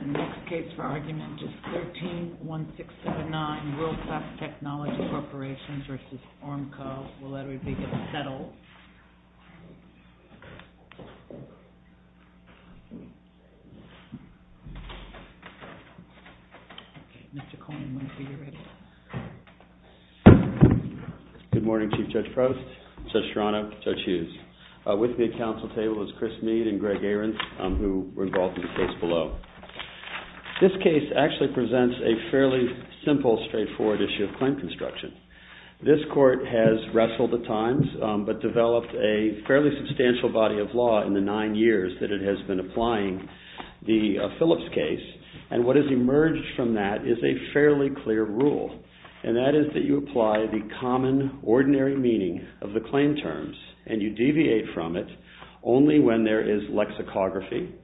And the next case for argument is 13-1679 World Class Technology Corporation v. Ormco. Will everybody get settled? Good morning, Chief Judge Frost, Judge Serrano, Judge Hughes. With me at council table is Chris Mead and Greg Ahrens, who were involved in the case below. This case actually presents a fairly simple, straightforward issue of claim construction. This court has wrestled with times, but developed a fairly substantial body of law in the nine years that it has been applying the Phillips case. And what has emerged from that is a fairly clear rule. And that is that you apply the common, ordinary meaning of the claim terms and you deviate from it only when there is lexicography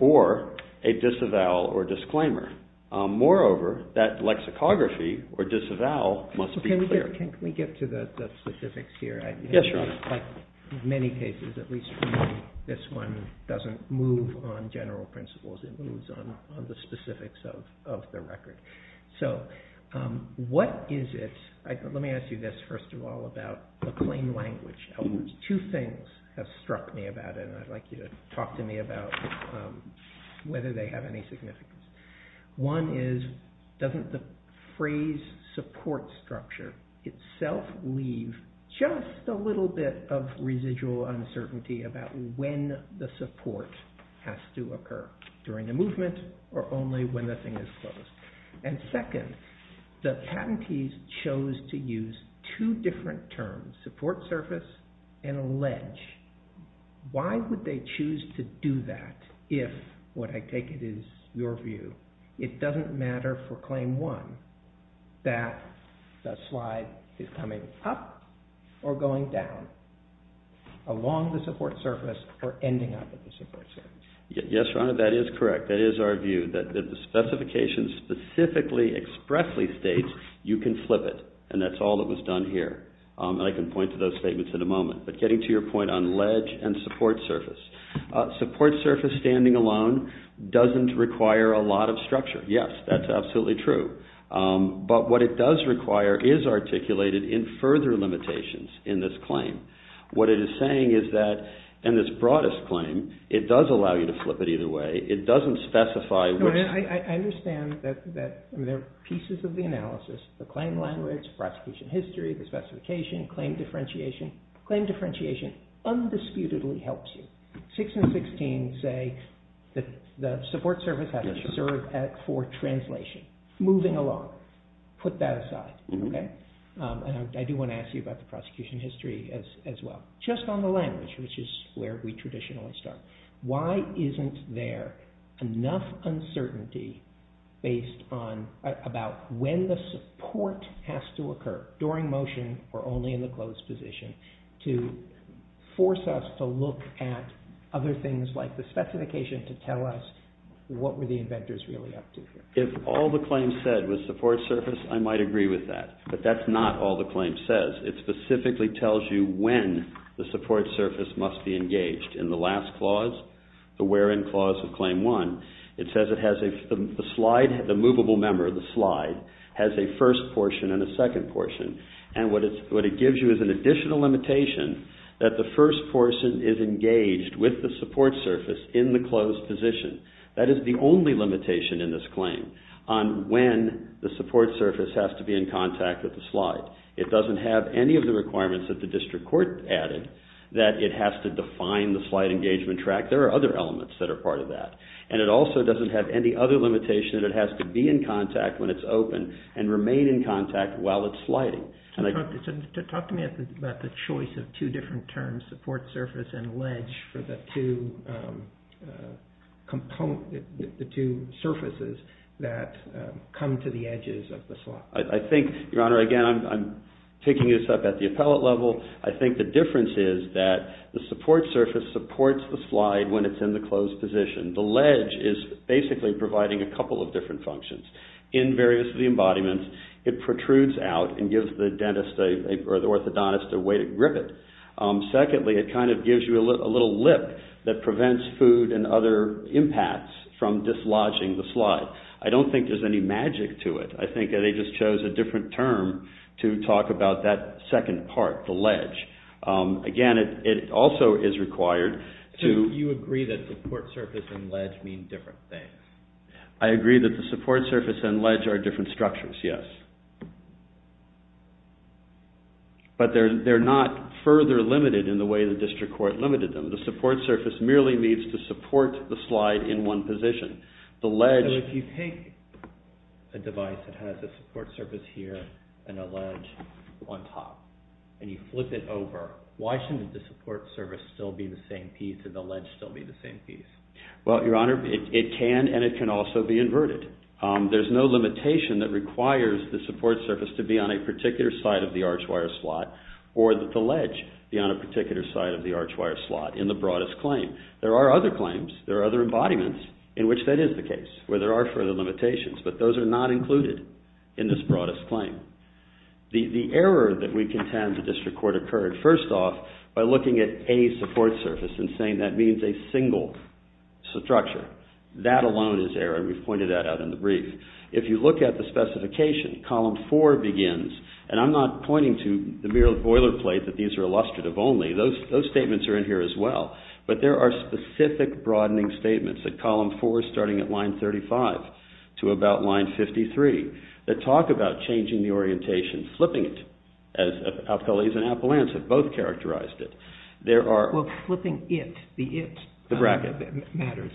or a disavowal or disclaimer. Moreover, that lexicography or disavowal must be clear. Can we get to the specifics here? Yes, Your Honor. In many cases, at least for me, this one doesn't move on general principles. It moves on the specifics of the record. So what is it? Let me ask you this first of all about the plain language. Two things have struck me about it, and I'd like you to talk to me about whether they have any significance. One is, doesn't the phrase support structure itself leave just a little bit of residual uncertainty about when the support has to occur during the movement or only when the thing is closed? And second, the patentees chose to use two different terms, support surface and ledge. Why would they choose to do that if, what I take it is your view, it doesn't matter for claim one that the slide is coming up or going down along the support surface or ending up at the support surface? Yes, Your Honor, that is correct. That is our view. That the specification specifically expressly states you can flip it, and that's all that was done here. And I can point to those statements in a moment. But getting to your point on ledge and support surface, support surface standing alone doesn't require a lot of structure. Yes, that's absolutely true. But what it does require is articulated in further limitations in this claim. What it is saying is that, in this broadest claim, it does allow you to flip it either way. It doesn't specify which... I understand that there are pieces of the analysis, the claim language, prosecution history, the specification, claim differentiation. Claim differentiation undisputedly helps you. 6 and 16 say that the support surface has to serve for translation, moving along. Put that aside. I do want to ask you about the prosecution history as well. Just on the language, which is where we traditionally start. Why isn't there enough uncertainty about when the support has to occur, during motion or only in the closed position, to force us to look at other things like the specification to tell us what were the inventors really up to here? If all the claims said was support surface, I might agree with that. But that's not all the claim says. It specifically tells you when the support surface must be engaged. In the last clause, the where-in clause of Claim 1, it says the slide, the movable member of the slide, has a first portion and a second portion. And what it gives you is an additional limitation that the first portion is engaged with the support surface in the closed position. That is the only limitation in this claim on when the support surface has to be in contact with the slide. It doesn't have any of the requirements that the district court added that it has to define the slide engagement track. There are other elements that are part of that. And it also doesn't have any other limitation that it has to be in contact when it's open and remain in contact while it's sliding. Talk to me about the choice of two different terms, support surface and ledge, for the two surfaces that come to the edges of the slide. I think, Your Honor, again, I'm picking this up at the appellate level. I think the difference is that the support surface supports the slide when it's in the closed position. The ledge is basically providing a couple of different functions. In various of the embodiments, it protrudes out and gives the dentist or the orthodontist a way to grip it. Secondly, it kind of gives you a little lip that prevents food and other impacts from dislodging the slide. I don't think there's any magic to it. I think they just chose a different term to talk about that second part, the ledge. Again, it also is required to… So you agree that support surface and ledge mean different things? I agree that the support surface and ledge are different structures, yes. But they're not further limited in the way the district court limited them. The support surface merely needs to support the slide in one position. So if you take a device that has a support surface here and a ledge on top and you flip it over, why shouldn't the support surface still be the same piece and the ledge still be the same piece? Well, Your Honor, it can and it can also be inverted. There's no limitation that requires the support surface to be on a particular side of the archwire slot or that the ledge be on a particular side of the archwire slot in the broadest claim. There are other claims. There are other embodiments in which that is the case where there are further limitations, but those are not included in this broadest claim. The error that we contend the district court occurred, first off, by looking at any support surface and saying that means a single structure. That alone is error, and we've pointed that out in the brief. If you look at the specification, column four begins, and I'm not pointing to the mere boilerplate that these are illustrative only. Those statements are in here as well, but there are specific broadening statements at column four starting at line 35 to about line 53 that talk about changing the orientation, flipping it, as Appellees and Appellants have both characterized it. There are... Well, flipping it, the it... The bracket. ...matters.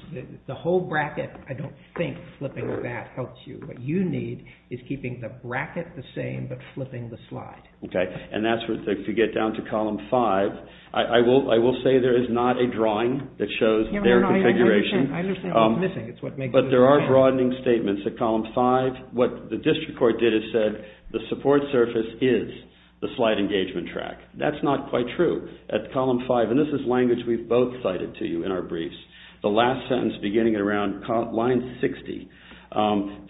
The whole bracket, I don't think flipping that helps you. What you need is keeping the bracket the same but flipping the slide. Okay, and that's where, if you get down to column five, I will say there is not a drawing that shows their configuration. No, no, no, I understand. I understand what's missing. But there are broadening statements at column five. What the district court did is said the support surface is the slide engagement track. That's not quite true. At column five, and this is language we've both cited to you in our briefs, the last sentence beginning at around line 60,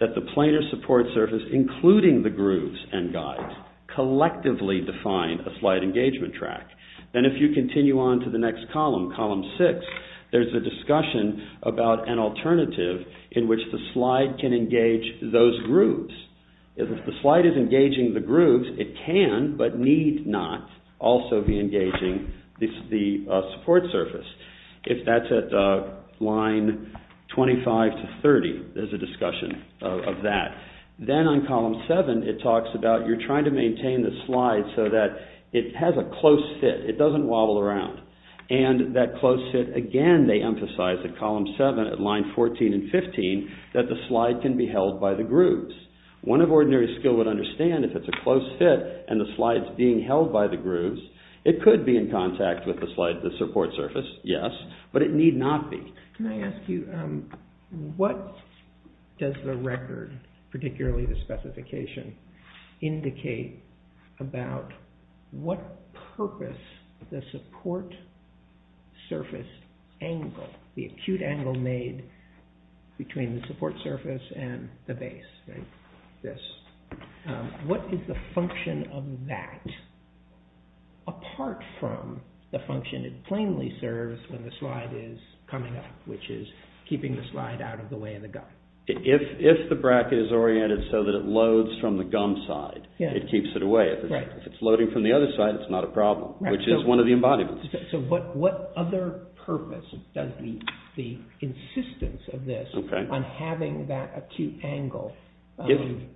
that the planar support surface, including the grooves and guides, collectively define a slide engagement track. Then if you continue on to the next column, column six, there's a discussion about an alternative in which the slide can engage those grooves. If the slide is engaging the grooves, it can but need not also be engaging the support surface. If that's at line 25 to 30, there's a discussion of that. Then on column seven, it talks about you're trying to maintain the slide so that it has a close fit. It doesn't wobble around. That close fit, again, they emphasize at column seven at line 14 and 15 that the slide can be held by the grooves. One of ordinary skill would understand if it's a close fit and the slide's being held by the grooves, it could be in contact with the support surface, yes, but it need not be. Can I ask you, what does the record, particularly the specification, indicate about what purpose the support surface angle, the acute angle made between the support surface and the base, like this, what is the function of that apart from the function it plainly serves when the slide is coming up, which is keeping the slide out of the way of the guide? If the bracket is oriented so that it loads from the gum side, it keeps it away. If it's loading from the other side, it's not a problem, which is one of the embodiments. What other purpose does the insistence of this on having that acute angle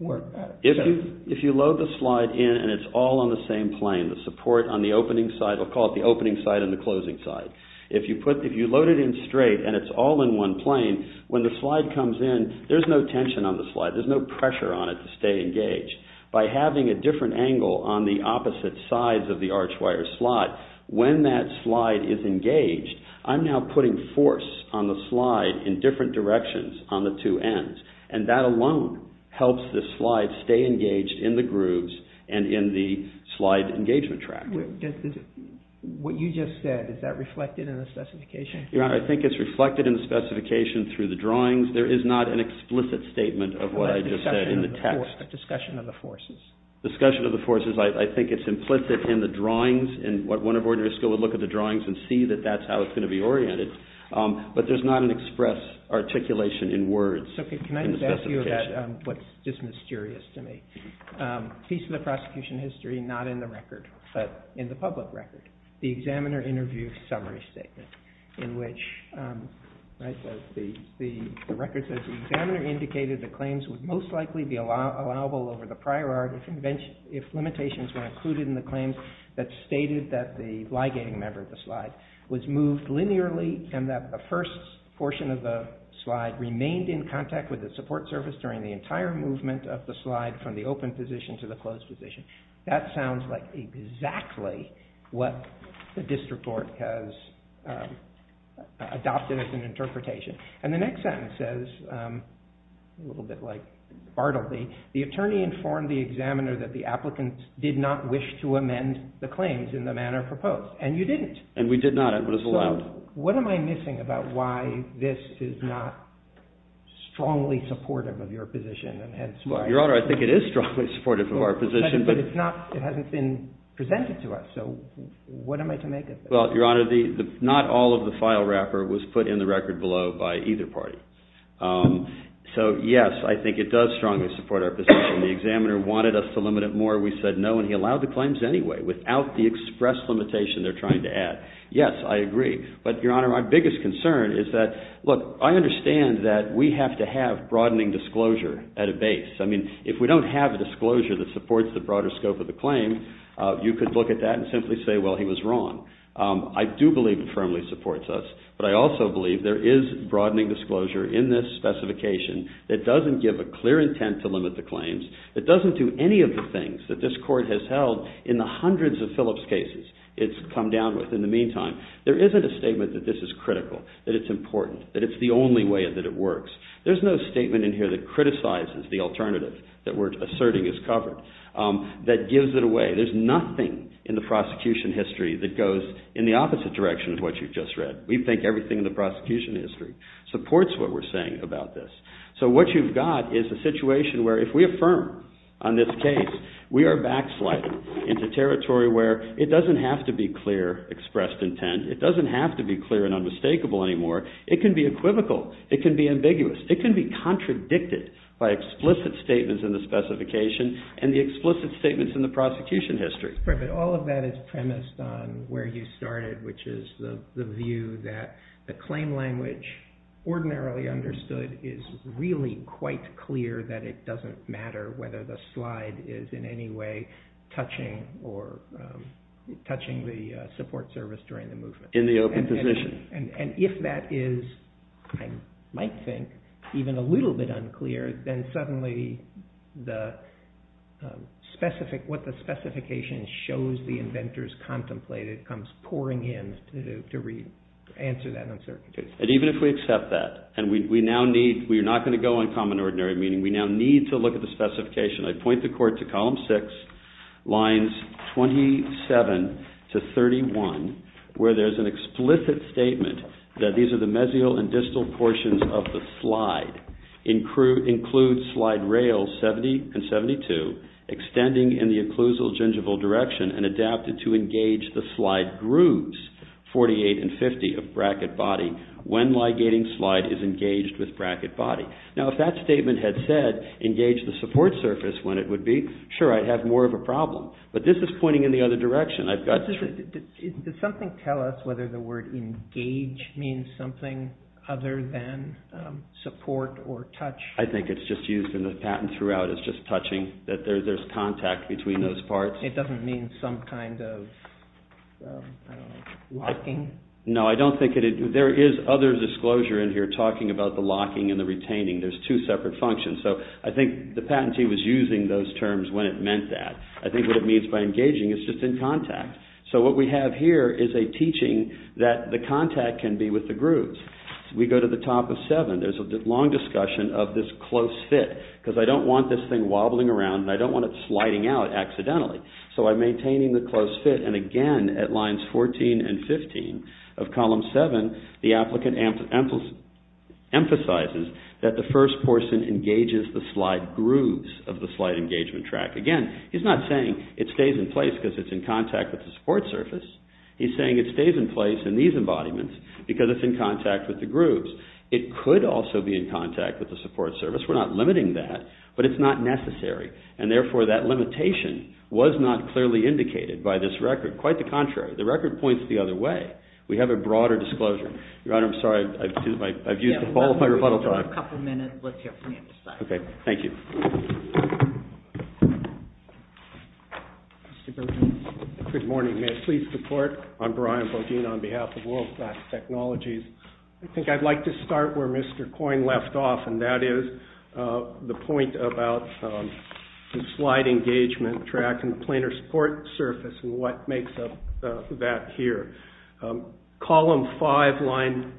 work? If you load the slide in and it's all on the same plane, the support on the opening side, we'll call it the opening side and the closing side, if you load it in straight and it's all in one plane, when the slide comes in, there's no tension on the slide, there's no pressure on it to stay engaged. By having a different angle on the opposite sides of the archwire slot, when that slide is engaged, I'm now putting force on the slide in different directions on the two ends, and that alone helps the slide stay engaged in the grooves and in the slide engagement track. What you just said, is that reflected in the specification? Your Honor, I think it's reflected in the specification through the drawings. There is not an explicit statement of what I just said in the text. A discussion of the forces. A discussion of the forces. I think it's implicit in the drawings, and one of our jurists would look at the drawings and see that that's how it's going to be oriented, but there's not an express articulation in words. Can I just ask you about what's just mysterious to me? A piece of the prosecution history, not in the record, but in the public record, is the examiner interview summary statement, in which the record says, the examiner indicated that claims would most likely be allowable over the prior art if limitations were included in the claims that stated that the ligating member of the slide was moved linearly and that the first portion of the slide remained in contact with the support service during the entire movement of the slide from the open position to the closed position. That sounds like exactly what the district court has adopted as an interpretation. And the next sentence says, a little bit like Bartleby, the attorney informed the examiner that the applicant did not wish to amend the claims in the manner proposed. And you didn't. And we did not. It was allowed. What am I missing about why this is not strongly supportive of your position? Your Honor, I think it is strongly supportive of our position, but it hasn't been presented to us. So what am I to make of that? Well, Your Honor, not all of the file wrapper was put in the record below by either party. So, yes, I think it does strongly support our position. The examiner wanted us to limit it more. We said no, and he allowed the claims anyway, without the express limitation they're trying to add. Yes, I agree. But, Your Honor, my biggest concern is that, look, I understand that we have to have broadening disclosure at a base. I mean, if we don't have a disclosure that supports the broader scope of the claim, you could look at that and simply say, well, he was wrong. I do believe it firmly supports us, but I also believe there is broadening disclosure in this specification that doesn't give a clear intent to limit the claims, that doesn't do any of the things that this Court has held in the hundreds of Phillips cases it's come down with in the meantime. There isn't a statement that this is critical, that it's important, that it's the only way that it works. There's no statement in here that criticizes the alternative that we're asserting is covered, that gives it away. There's nothing in the prosecution history that goes in the opposite direction of what you've just read. We think everything in the prosecution history supports what we're saying about this. So what you've got is a situation where if we affirm on this case, we are backsliding into territory where it doesn't have to be clear expressed intent. It doesn't have to be clear and unmistakable anymore. It can be equivocal. It can be ambiguous. It can be contradicted by explicit statements in the specification and the explicit statements in the prosecution history. All of that is premised on where you started, which is the view that the claim language ordinarily understood is really quite clear that it doesn't matter whether the slide is in any way touching the support service during the movement. In the open position. And if that is, I might think, even a little bit unclear, then suddenly what the specification shows the inventors contemplated comes pouring in to re-answer that uncertainty. And even if we accept that, and we're not going to go on common ordinary, meaning we now need to look at the specification. I point the court to column six, lines 27 to 31, where there's an explicit statement that these are the mesial and distal portions of the slide, include slide rails 70 and 72, extending in the occlusal gingival direction and adapted to engage the slide grooves 48 and 50 of bracket body when ligating slide is engaged with bracket body. Now, if that statement had said engage the support surface when it would be, sure, I'd have more of a problem. But this is pointing in the other direction. Does something tell us whether the word engage means something other than support or touch? I think it's just used in the patent throughout as just touching, that there's contact between those parts. It doesn't mean some kind of locking? No, I don't think it is. There is other disclosure in here talking about the locking and the retaining. There's two separate functions. So I think the patentee was using those terms when it meant that. I think what it means by engaging is just in contact. So what we have here is a teaching that the contact can be with the grooves. We go to the top of 7. There's a long discussion of this close fit, because I don't want this thing wobbling around and I don't want it sliding out accidentally. So I'm maintaining the close fit. And again, at lines 14 and 15 of column 7, the applicant emphasizes that the first person engages the slide grooves of the slide engagement track. Again, he's not saying it stays in place, because it's in contact with the support surface. He's saying it stays in place in these embodiments, because it's in contact with the grooves. It could also be in contact with the support surface. We're not limiting that, but it's not necessary. And therefore, that limitation was not clearly indicated by this record. Quite the contrary. The record points the other way. We have a broader disclosure. Your Honor, I'm sorry. I've used up all of my rebuttal time. A couple minutes left here for me to decide. Okay. Thank you. Mr. Bergen. Good morning. May I please report? I'm Brian Bergen on behalf of World Class Technologies. I think I'd like to start where Mr. Coyne left off, and that is the point about the slide engagement track and the planar support surface and what makes up that here. Column 5, line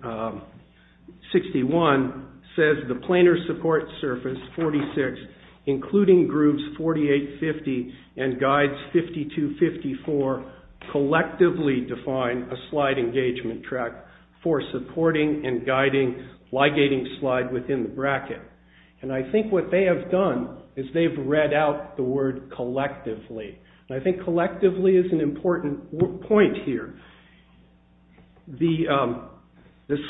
61, says the planar support surface, 46, including grooves 48, 50, and guides 52, 54, collectively define a slide engagement track for supporting and guiding ligating slide within the bracket. And I think what they have done is they've read out the word collectively. And I think collectively is an important point here. The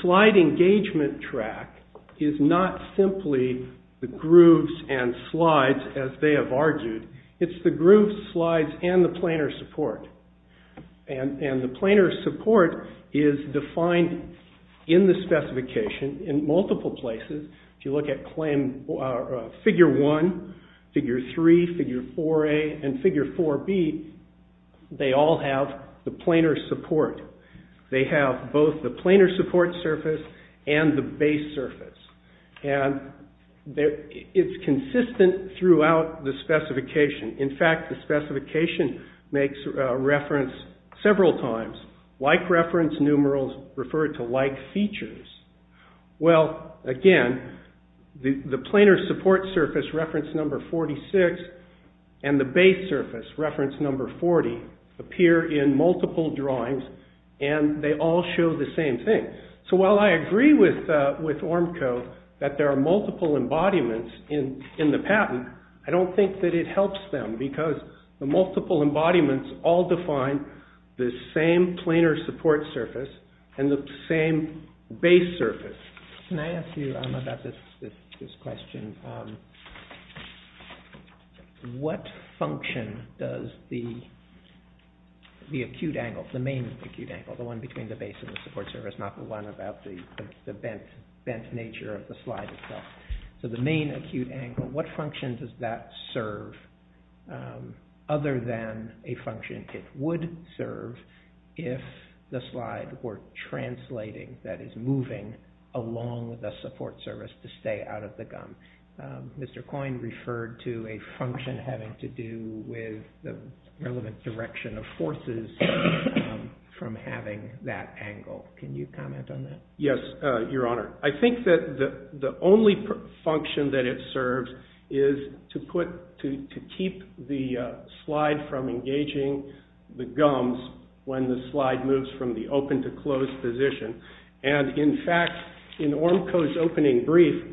slide engagement track is not simply the grooves and slides, as they have argued. It's the grooves, slides, and the planar support. And the planar support is defined in the specification in multiple places. If you look at figure 1, figure 3, figure 4A, and figure 4B, they all have the planar support. They have both the planar support surface and the base surface. And it's consistent throughout the specification. In fact, the specification makes reference several times. Like reference numerals refer to like features. Well, again, the planar support surface, reference number 46, and the base surface, reference number 40, appear in multiple drawings and they all show the same thing. So while I agree with ORMCO that there are multiple embodiments in the patent, I don't think that it helps them because the multiple embodiments all define the same planar support surface and the same base surface. Can I ask you about this question? What function does the acute angle, the main acute angle, the one between the base and the support surface, not the one about the bent nature of the slide itself, other than a function it would serve if the slide were translating, that is moving along the support surface to stay out of the gum? Mr. Coyne referred to a function having to do with the relevant direction of forces from having that angle. Can you comment on that? Yes, Your Honor. I think that the only function that it serves is to put, to keep the slide from engaging the gums when the slide moves from the open to closed position. And in fact, in ORMCO's opening brief,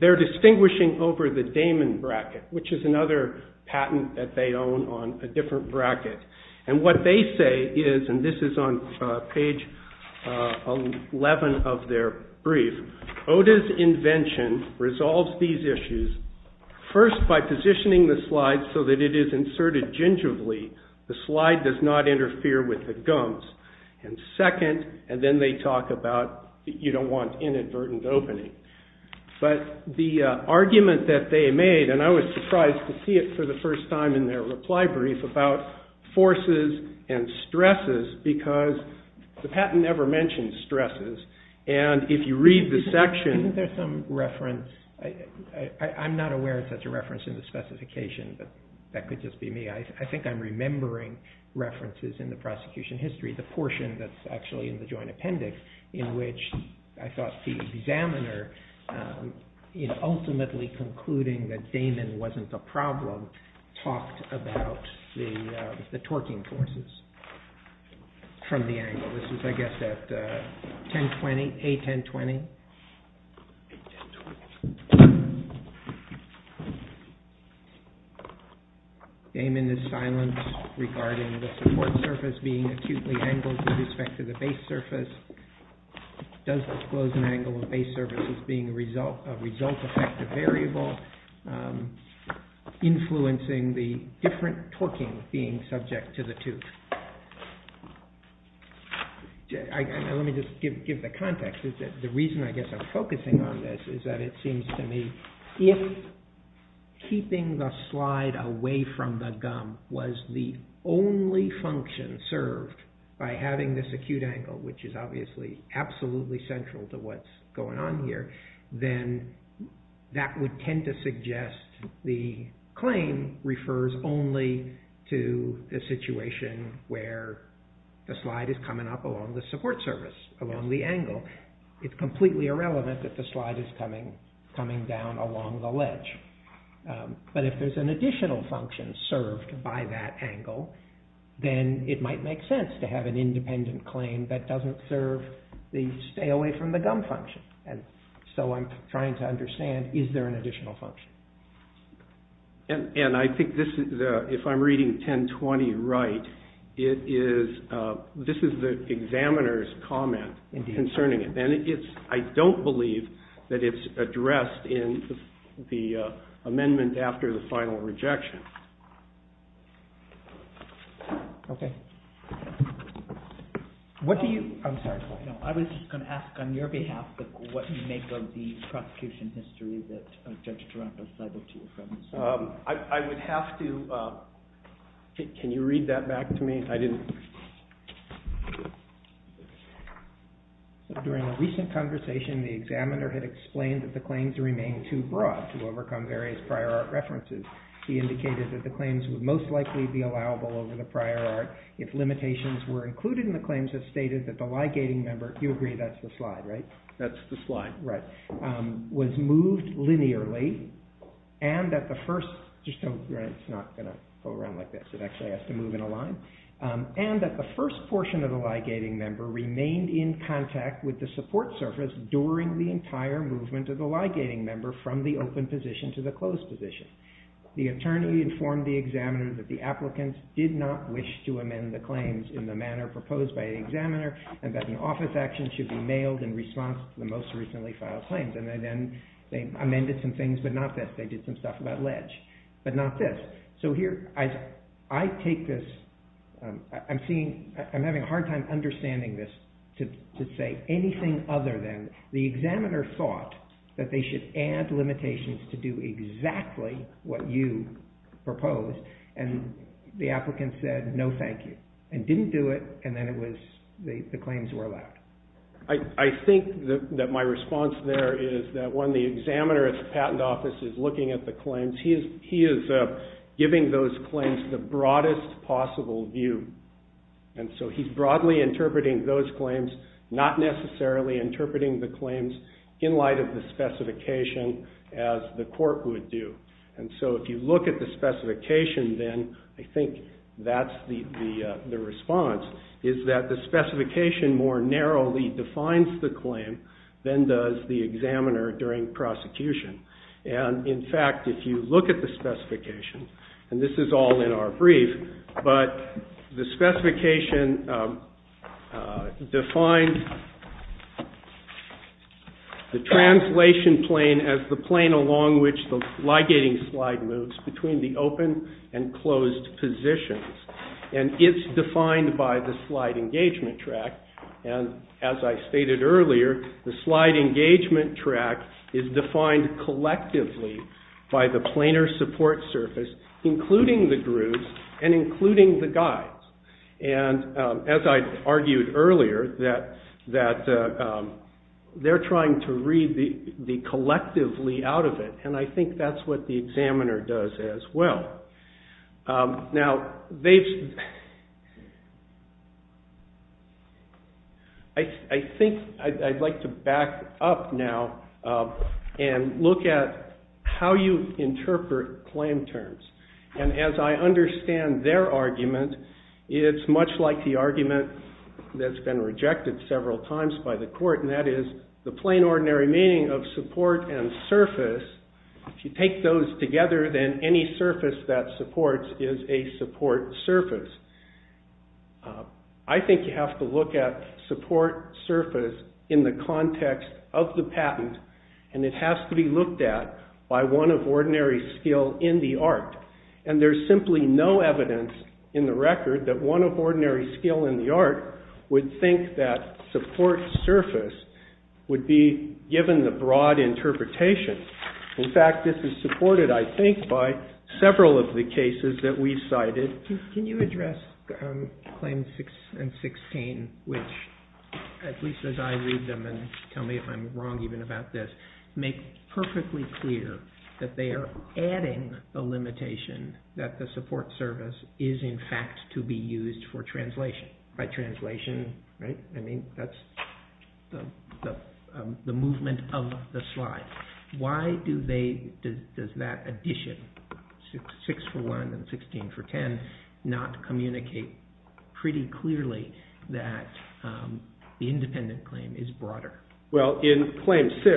they're distinguishing over the Damon bracket, which is another patent that they own on a different bracket. And what they say is, and this is on page 11 of their brief, OTA's invention resolves these issues, first by positioning the slide so that it is inserted gingerly. The slide does not interfere with the gums. And second, and then they talk about, you don't want inadvertent opening. But the argument that they made, and I was surprised to see it for the first time in their reply brief, is about forces and stresses, because the patent never mentions stresses. And if you read the section... Isn't there some reference? I'm not aware if that's a reference in the specification, but that could just be me. I think I'm remembering references in the prosecution history, the portion that's actually in the joint appendix, in which I thought the examiner, ultimately concluding that Damon wasn't a problem, talked about the torquing forces from the angle. This is, I guess, at A1020. Damon is silent regarding the support surface being acutely angled with respect to the base surface. Does disclosing angle of base surfaces being a result-effective variable influencing the different torquing being subject to the tooth? Let me just give the context. The reason I guess I'm focusing on this is that it seems to me if keeping the slide away from the gum was the only function served by having this acute angle, which is obviously absolutely central to what's going on here, then that would tend to suggest the claim refers only to the situation where the slide is coming up along the support surface, along the angle. It's completely irrelevant that the slide is coming down along the ledge. But if there's an additional function served by that angle, then it might make sense to have an independent claim that doesn't serve the stay away from the gum function. And so I'm trying to understand, is there an additional function? And I think if I'm reading A1020 right, this is the examiner's comment concerning it. And I don't believe that it's addressed in the amendment after the final rejection. What do you... I'm sorry. I was just going to ask on your behalf what you make of the prosecution history that Judge Taranto cited to you. I would have to... Can you read that back to me? During a recent conversation, the examiner had explained that the claims remain too broad to overcome various prior art references. He indicated that the claims would most likely be allowable over the prior art if limitations were included and the claims have stated that the ligating member... You agree that's the slide, right? That's the slide. Was moved linearly and that the first... Just don't... It's not going to go around like this. It actually has to move in a line. And that the first portion of the ligating member remained in contact with the support surface during the entire movement of the ligating member from the open position to the closed position. The attorney informed the examiner that the applicants did not wish to amend the claims in the manner proposed by the examiner and that an office action should be mailed in response to the most recently filed claims. And then they amended some things, but not this. They did some stuff about ledge, but not this. So here, I take this... I'm seeing... I'm having a hard time understanding this to say anything other than the examiner thought that they should add limitations to do exactly what you proposed and the applicant said, no, thank you. And didn't do it, and then it was... The claims were left. I think that my response there is that when the examiner at the patent office is looking at the claims, he is giving those claims the broadest possible view. And so he's broadly interpreting those claims, not necessarily interpreting the claims in light of the specification as the court would do. And so if you look at the specification, then I think that's the response, is that the specification more narrowly defines the claim than does the examiner during prosecution. And in fact, if you look at the specification, and this is all in our brief, but the specification defines the translation plane as the plane along which the ligating slide moves between the open and closed positions. And it's defined by the slide engagement track, and as I stated earlier, the slide engagement track is defined collectively by the planar support surface, including the grooves and including the guides. And as I argued earlier, that they're trying to read the collectively out of it, and I think that's what the examiner does as well. I think I'd like to back up now and look at how you interpret claim terms. And as I understand their argument, it's much like the argument that's been rejected several times by the court, and that is the plain ordinary meaning of support and surface, if you take those together, then any surface that supports is a support surface. I think you have to look at support surface in the context of the patent, and it has to be looked at by one of ordinary skill in the art. And there's simply no evidence in the record that one of ordinary skill in the art would think that support surface would be given the broad interpretation. In fact, this is supported, I think, by several of the cases that we cited. Can you address claims 6 and 16, which, at least as I read them, and tell me if I'm wrong even about this, make perfectly clear that they are adding a limitation that the support surface is, in fact, to be used for translation. By translation, right? I mean, that's the movement of the slide. Why do they, does that addition, 6 for 1 and 16 for 10, not communicate pretty clearly that the independent claim is broader? Well, in claim 6,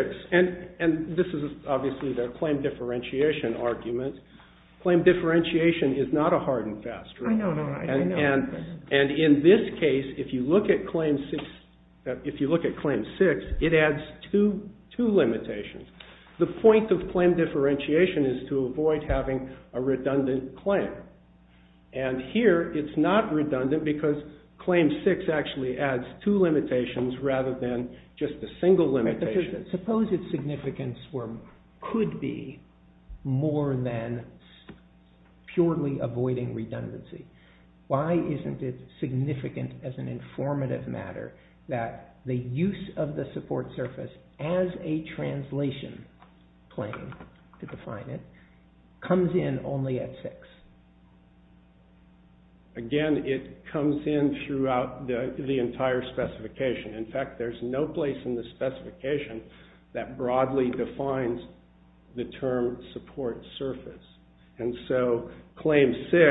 and this is obviously their claim differentiation argument, claim differentiation is not a hard and fast rule. And in this case, if you look at claim 6, it adds two limitations. The point of claim differentiation is to avoid having a redundant claim. And here, it's not redundant because claim 6 actually adds two limitations rather than just a single limitation. Suppose its significance could be more than purely avoiding redundancy. Why isn't it significant as an informative matter that the use of the support surface as a translation claim, to define it, comes in only at 6? Again, it comes in throughout the entire specification. In fact, there's no place in the specification that broadly defines the term support surface. And so, claim 6,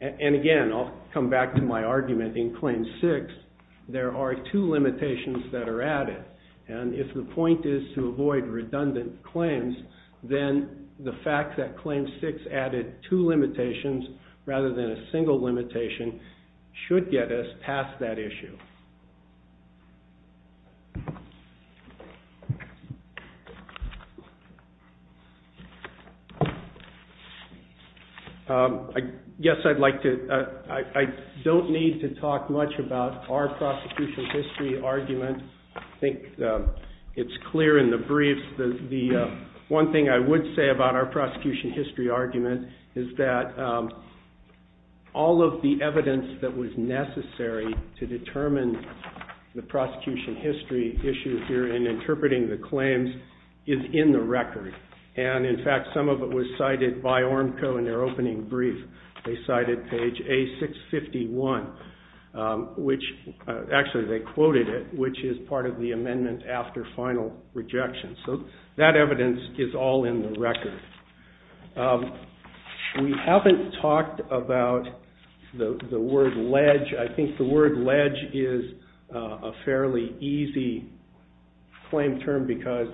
and again, I'll come back to my argument, in claim 6, there are two limitations that are added. And if the point is to avoid redundant claims, then the fact that claim 6 added two limitations rather than a single limitation should get us past that issue. Yes, I'd like to... I don't need to talk much about our prosecution history argument. I think it's clear in the briefs. The one thing I would say about our prosecution history argument is that all of the evidence that was necessary to determine the prosecution history issues here in interpreting the claims is in the record. And in fact, some of it was cited by ORMCO in their opening brief. They cited page A651, which, actually, they quoted it, which is part of the amendment after final rejection. So that evidence is all in the record. We haven't talked about the word ledge. I think the word ledge is a fairly easy claim term because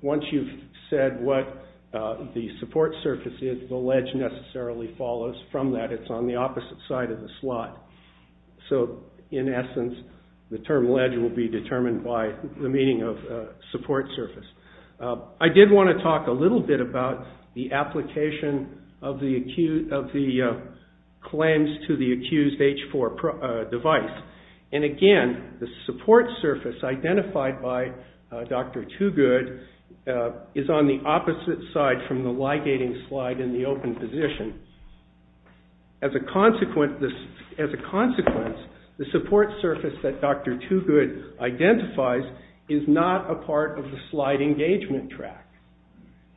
once you've said what the support surface is, the ledge necessarily follows from that. It's on the opposite side of the slot. So, in essence, the term ledge will be determined by the meaning of support surface. I did want to talk a little bit about the application of the claims to the accused H4 device. And again, the support surface identified by Dr. Tugud is on the opposite side from the ligating slide in the open position. As a consequence, the support surface that Dr. Tugud identifies is not a part of the slide engagement track.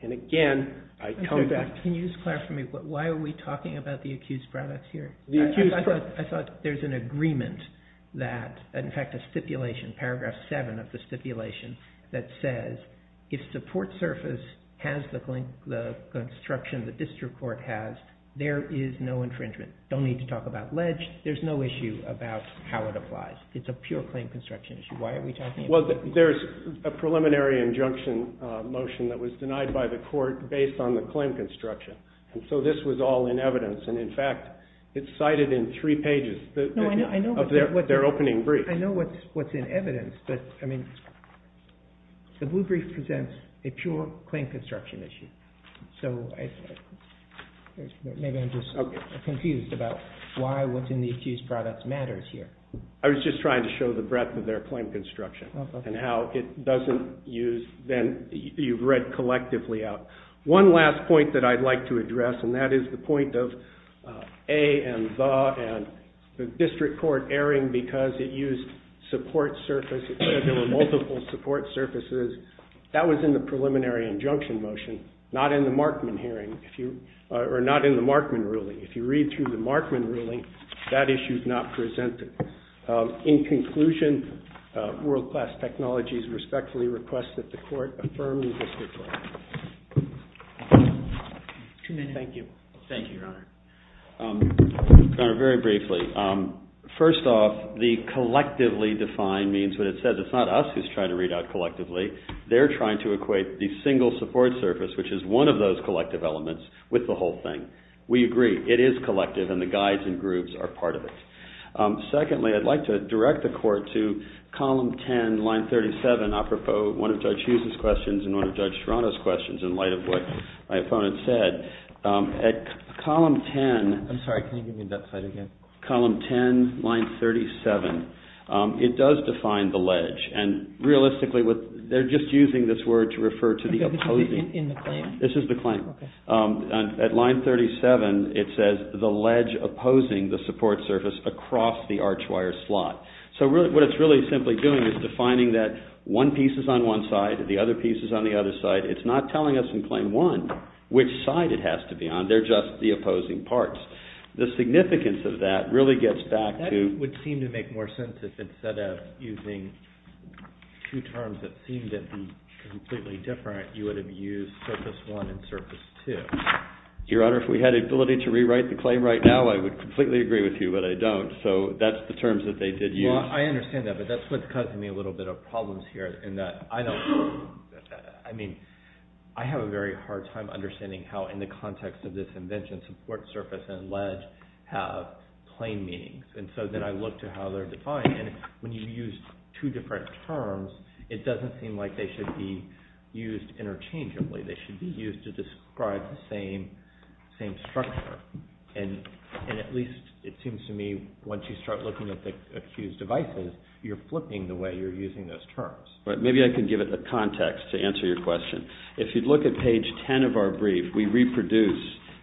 And again, I come back... Can you just clarify for me, why are we talking about the accused products here? I thought there's an agreement that, in fact, a stipulation, paragraph 7 of the stipulation, that says if support surface has the construction the district court has, there is no infringement. Don't need to talk about ledge. There's no issue about how it applies. It's a pure claim construction issue. Why are we talking about... Well, there's a preliminary injunction motion that was denied by the court based on the claim construction. And so this was all in evidence. And in fact, it's cited in three pages of their opening brief. I know what's in evidence, but the blue brief presents a pure claim construction issue. So maybe I'm just confused about why what's in the accused products matters here. I was just trying to show the breadth of their claim construction and how it doesn't use... Then you've read collectively out. One last point that I'd like to address, and that is the point of a and the and the district court erring because it used support surface. It said there were multiple support surfaces. That was in the preliminary injunction motion, not in the Markman hearing, or not in the Markman ruling. If you read through the Markman ruling, that issue's not presented. In conclusion, world-class technologies respectfully request that the court affirm the district court. Thank you. Thank you, Your Honor. Your Honor, very briefly. First off, the collectively defined means what it says. It's not us who's trying to read out collectively. They're trying to equate the single support surface, which is one of those collective elements, with the whole thing. We agree. It is collective, and the guides and groups are part of it. Secondly, I'd like to direct the court to column 10, line 37, apropos one of Judge Hughes's questions and one of Judge Toronto's questions in light of what my opponent said. At column 10... I'm sorry. Can you give me that slide again? Column 10, line 37, it does define the ledge. And realistically, they're just using this word to refer to the opposing... This is the claim? This is the claim. At line 37, it says, the ledge opposing the support surface across the archwire slot. So what it's really simply doing is defining that one piece is on one side, the other piece is on the other side. It's not telling us in claim one which side it has to be on. They're just the opposing parts. The significance of that really gets back to... That would seem to make more sense if it's set up using two terms that seem to be completely different. You would have used surface one and surface two. Your Honor, if we had the ability to rewrite the claim right now, I would completely agree with you, but I don't. So that's the terms that they did use. Well, I understand that, but that's what's causing me a little bit of problems here in that I don't... I mean, I have a very hard time understanding how in the context of this invention, support surface and ledge have plain meanings. And so then I look to how they're defined. And when you use two different terms, it doesn't seem like they should be used interchangeably. They should be used to describe the same structure. And at least it seems to me once you start looking at the accused devices, you're flipping the way you're using those terms. Maybe I can give it the context to answer your question. If you'd look at page 10 of our brief, we reproduce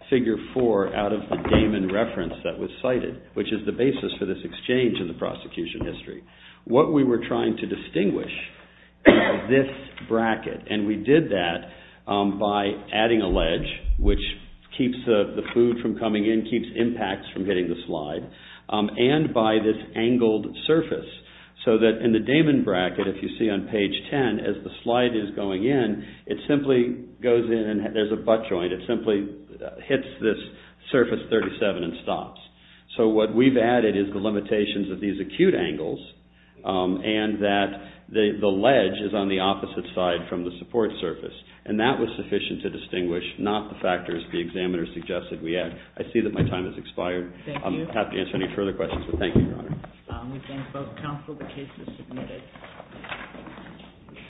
figure four out of the Damon reference that was cited, which is the basis for this exchange in the prosecution history. What we were trying to distinguish this bracket. And we did that by adding a ledge, which keeps the food from coming in, keeps impacts from hitting the slide and by this angled surface. So that in the Damon bracket, if you see on page 10, as the slide is going in, it simply goes in and there's a butt joint. It simply hits this surface 37 and stops. So what we've added is the limitations of these acute angles and that the ledge is on the opposite side from the support surface. And that was sufficient to distinguish not the factors the examiner suggested we add. I see that my time has expired. I'm happy to answer any further questions, but thank you, Your Honor. We thank both counsel. The case is submitted.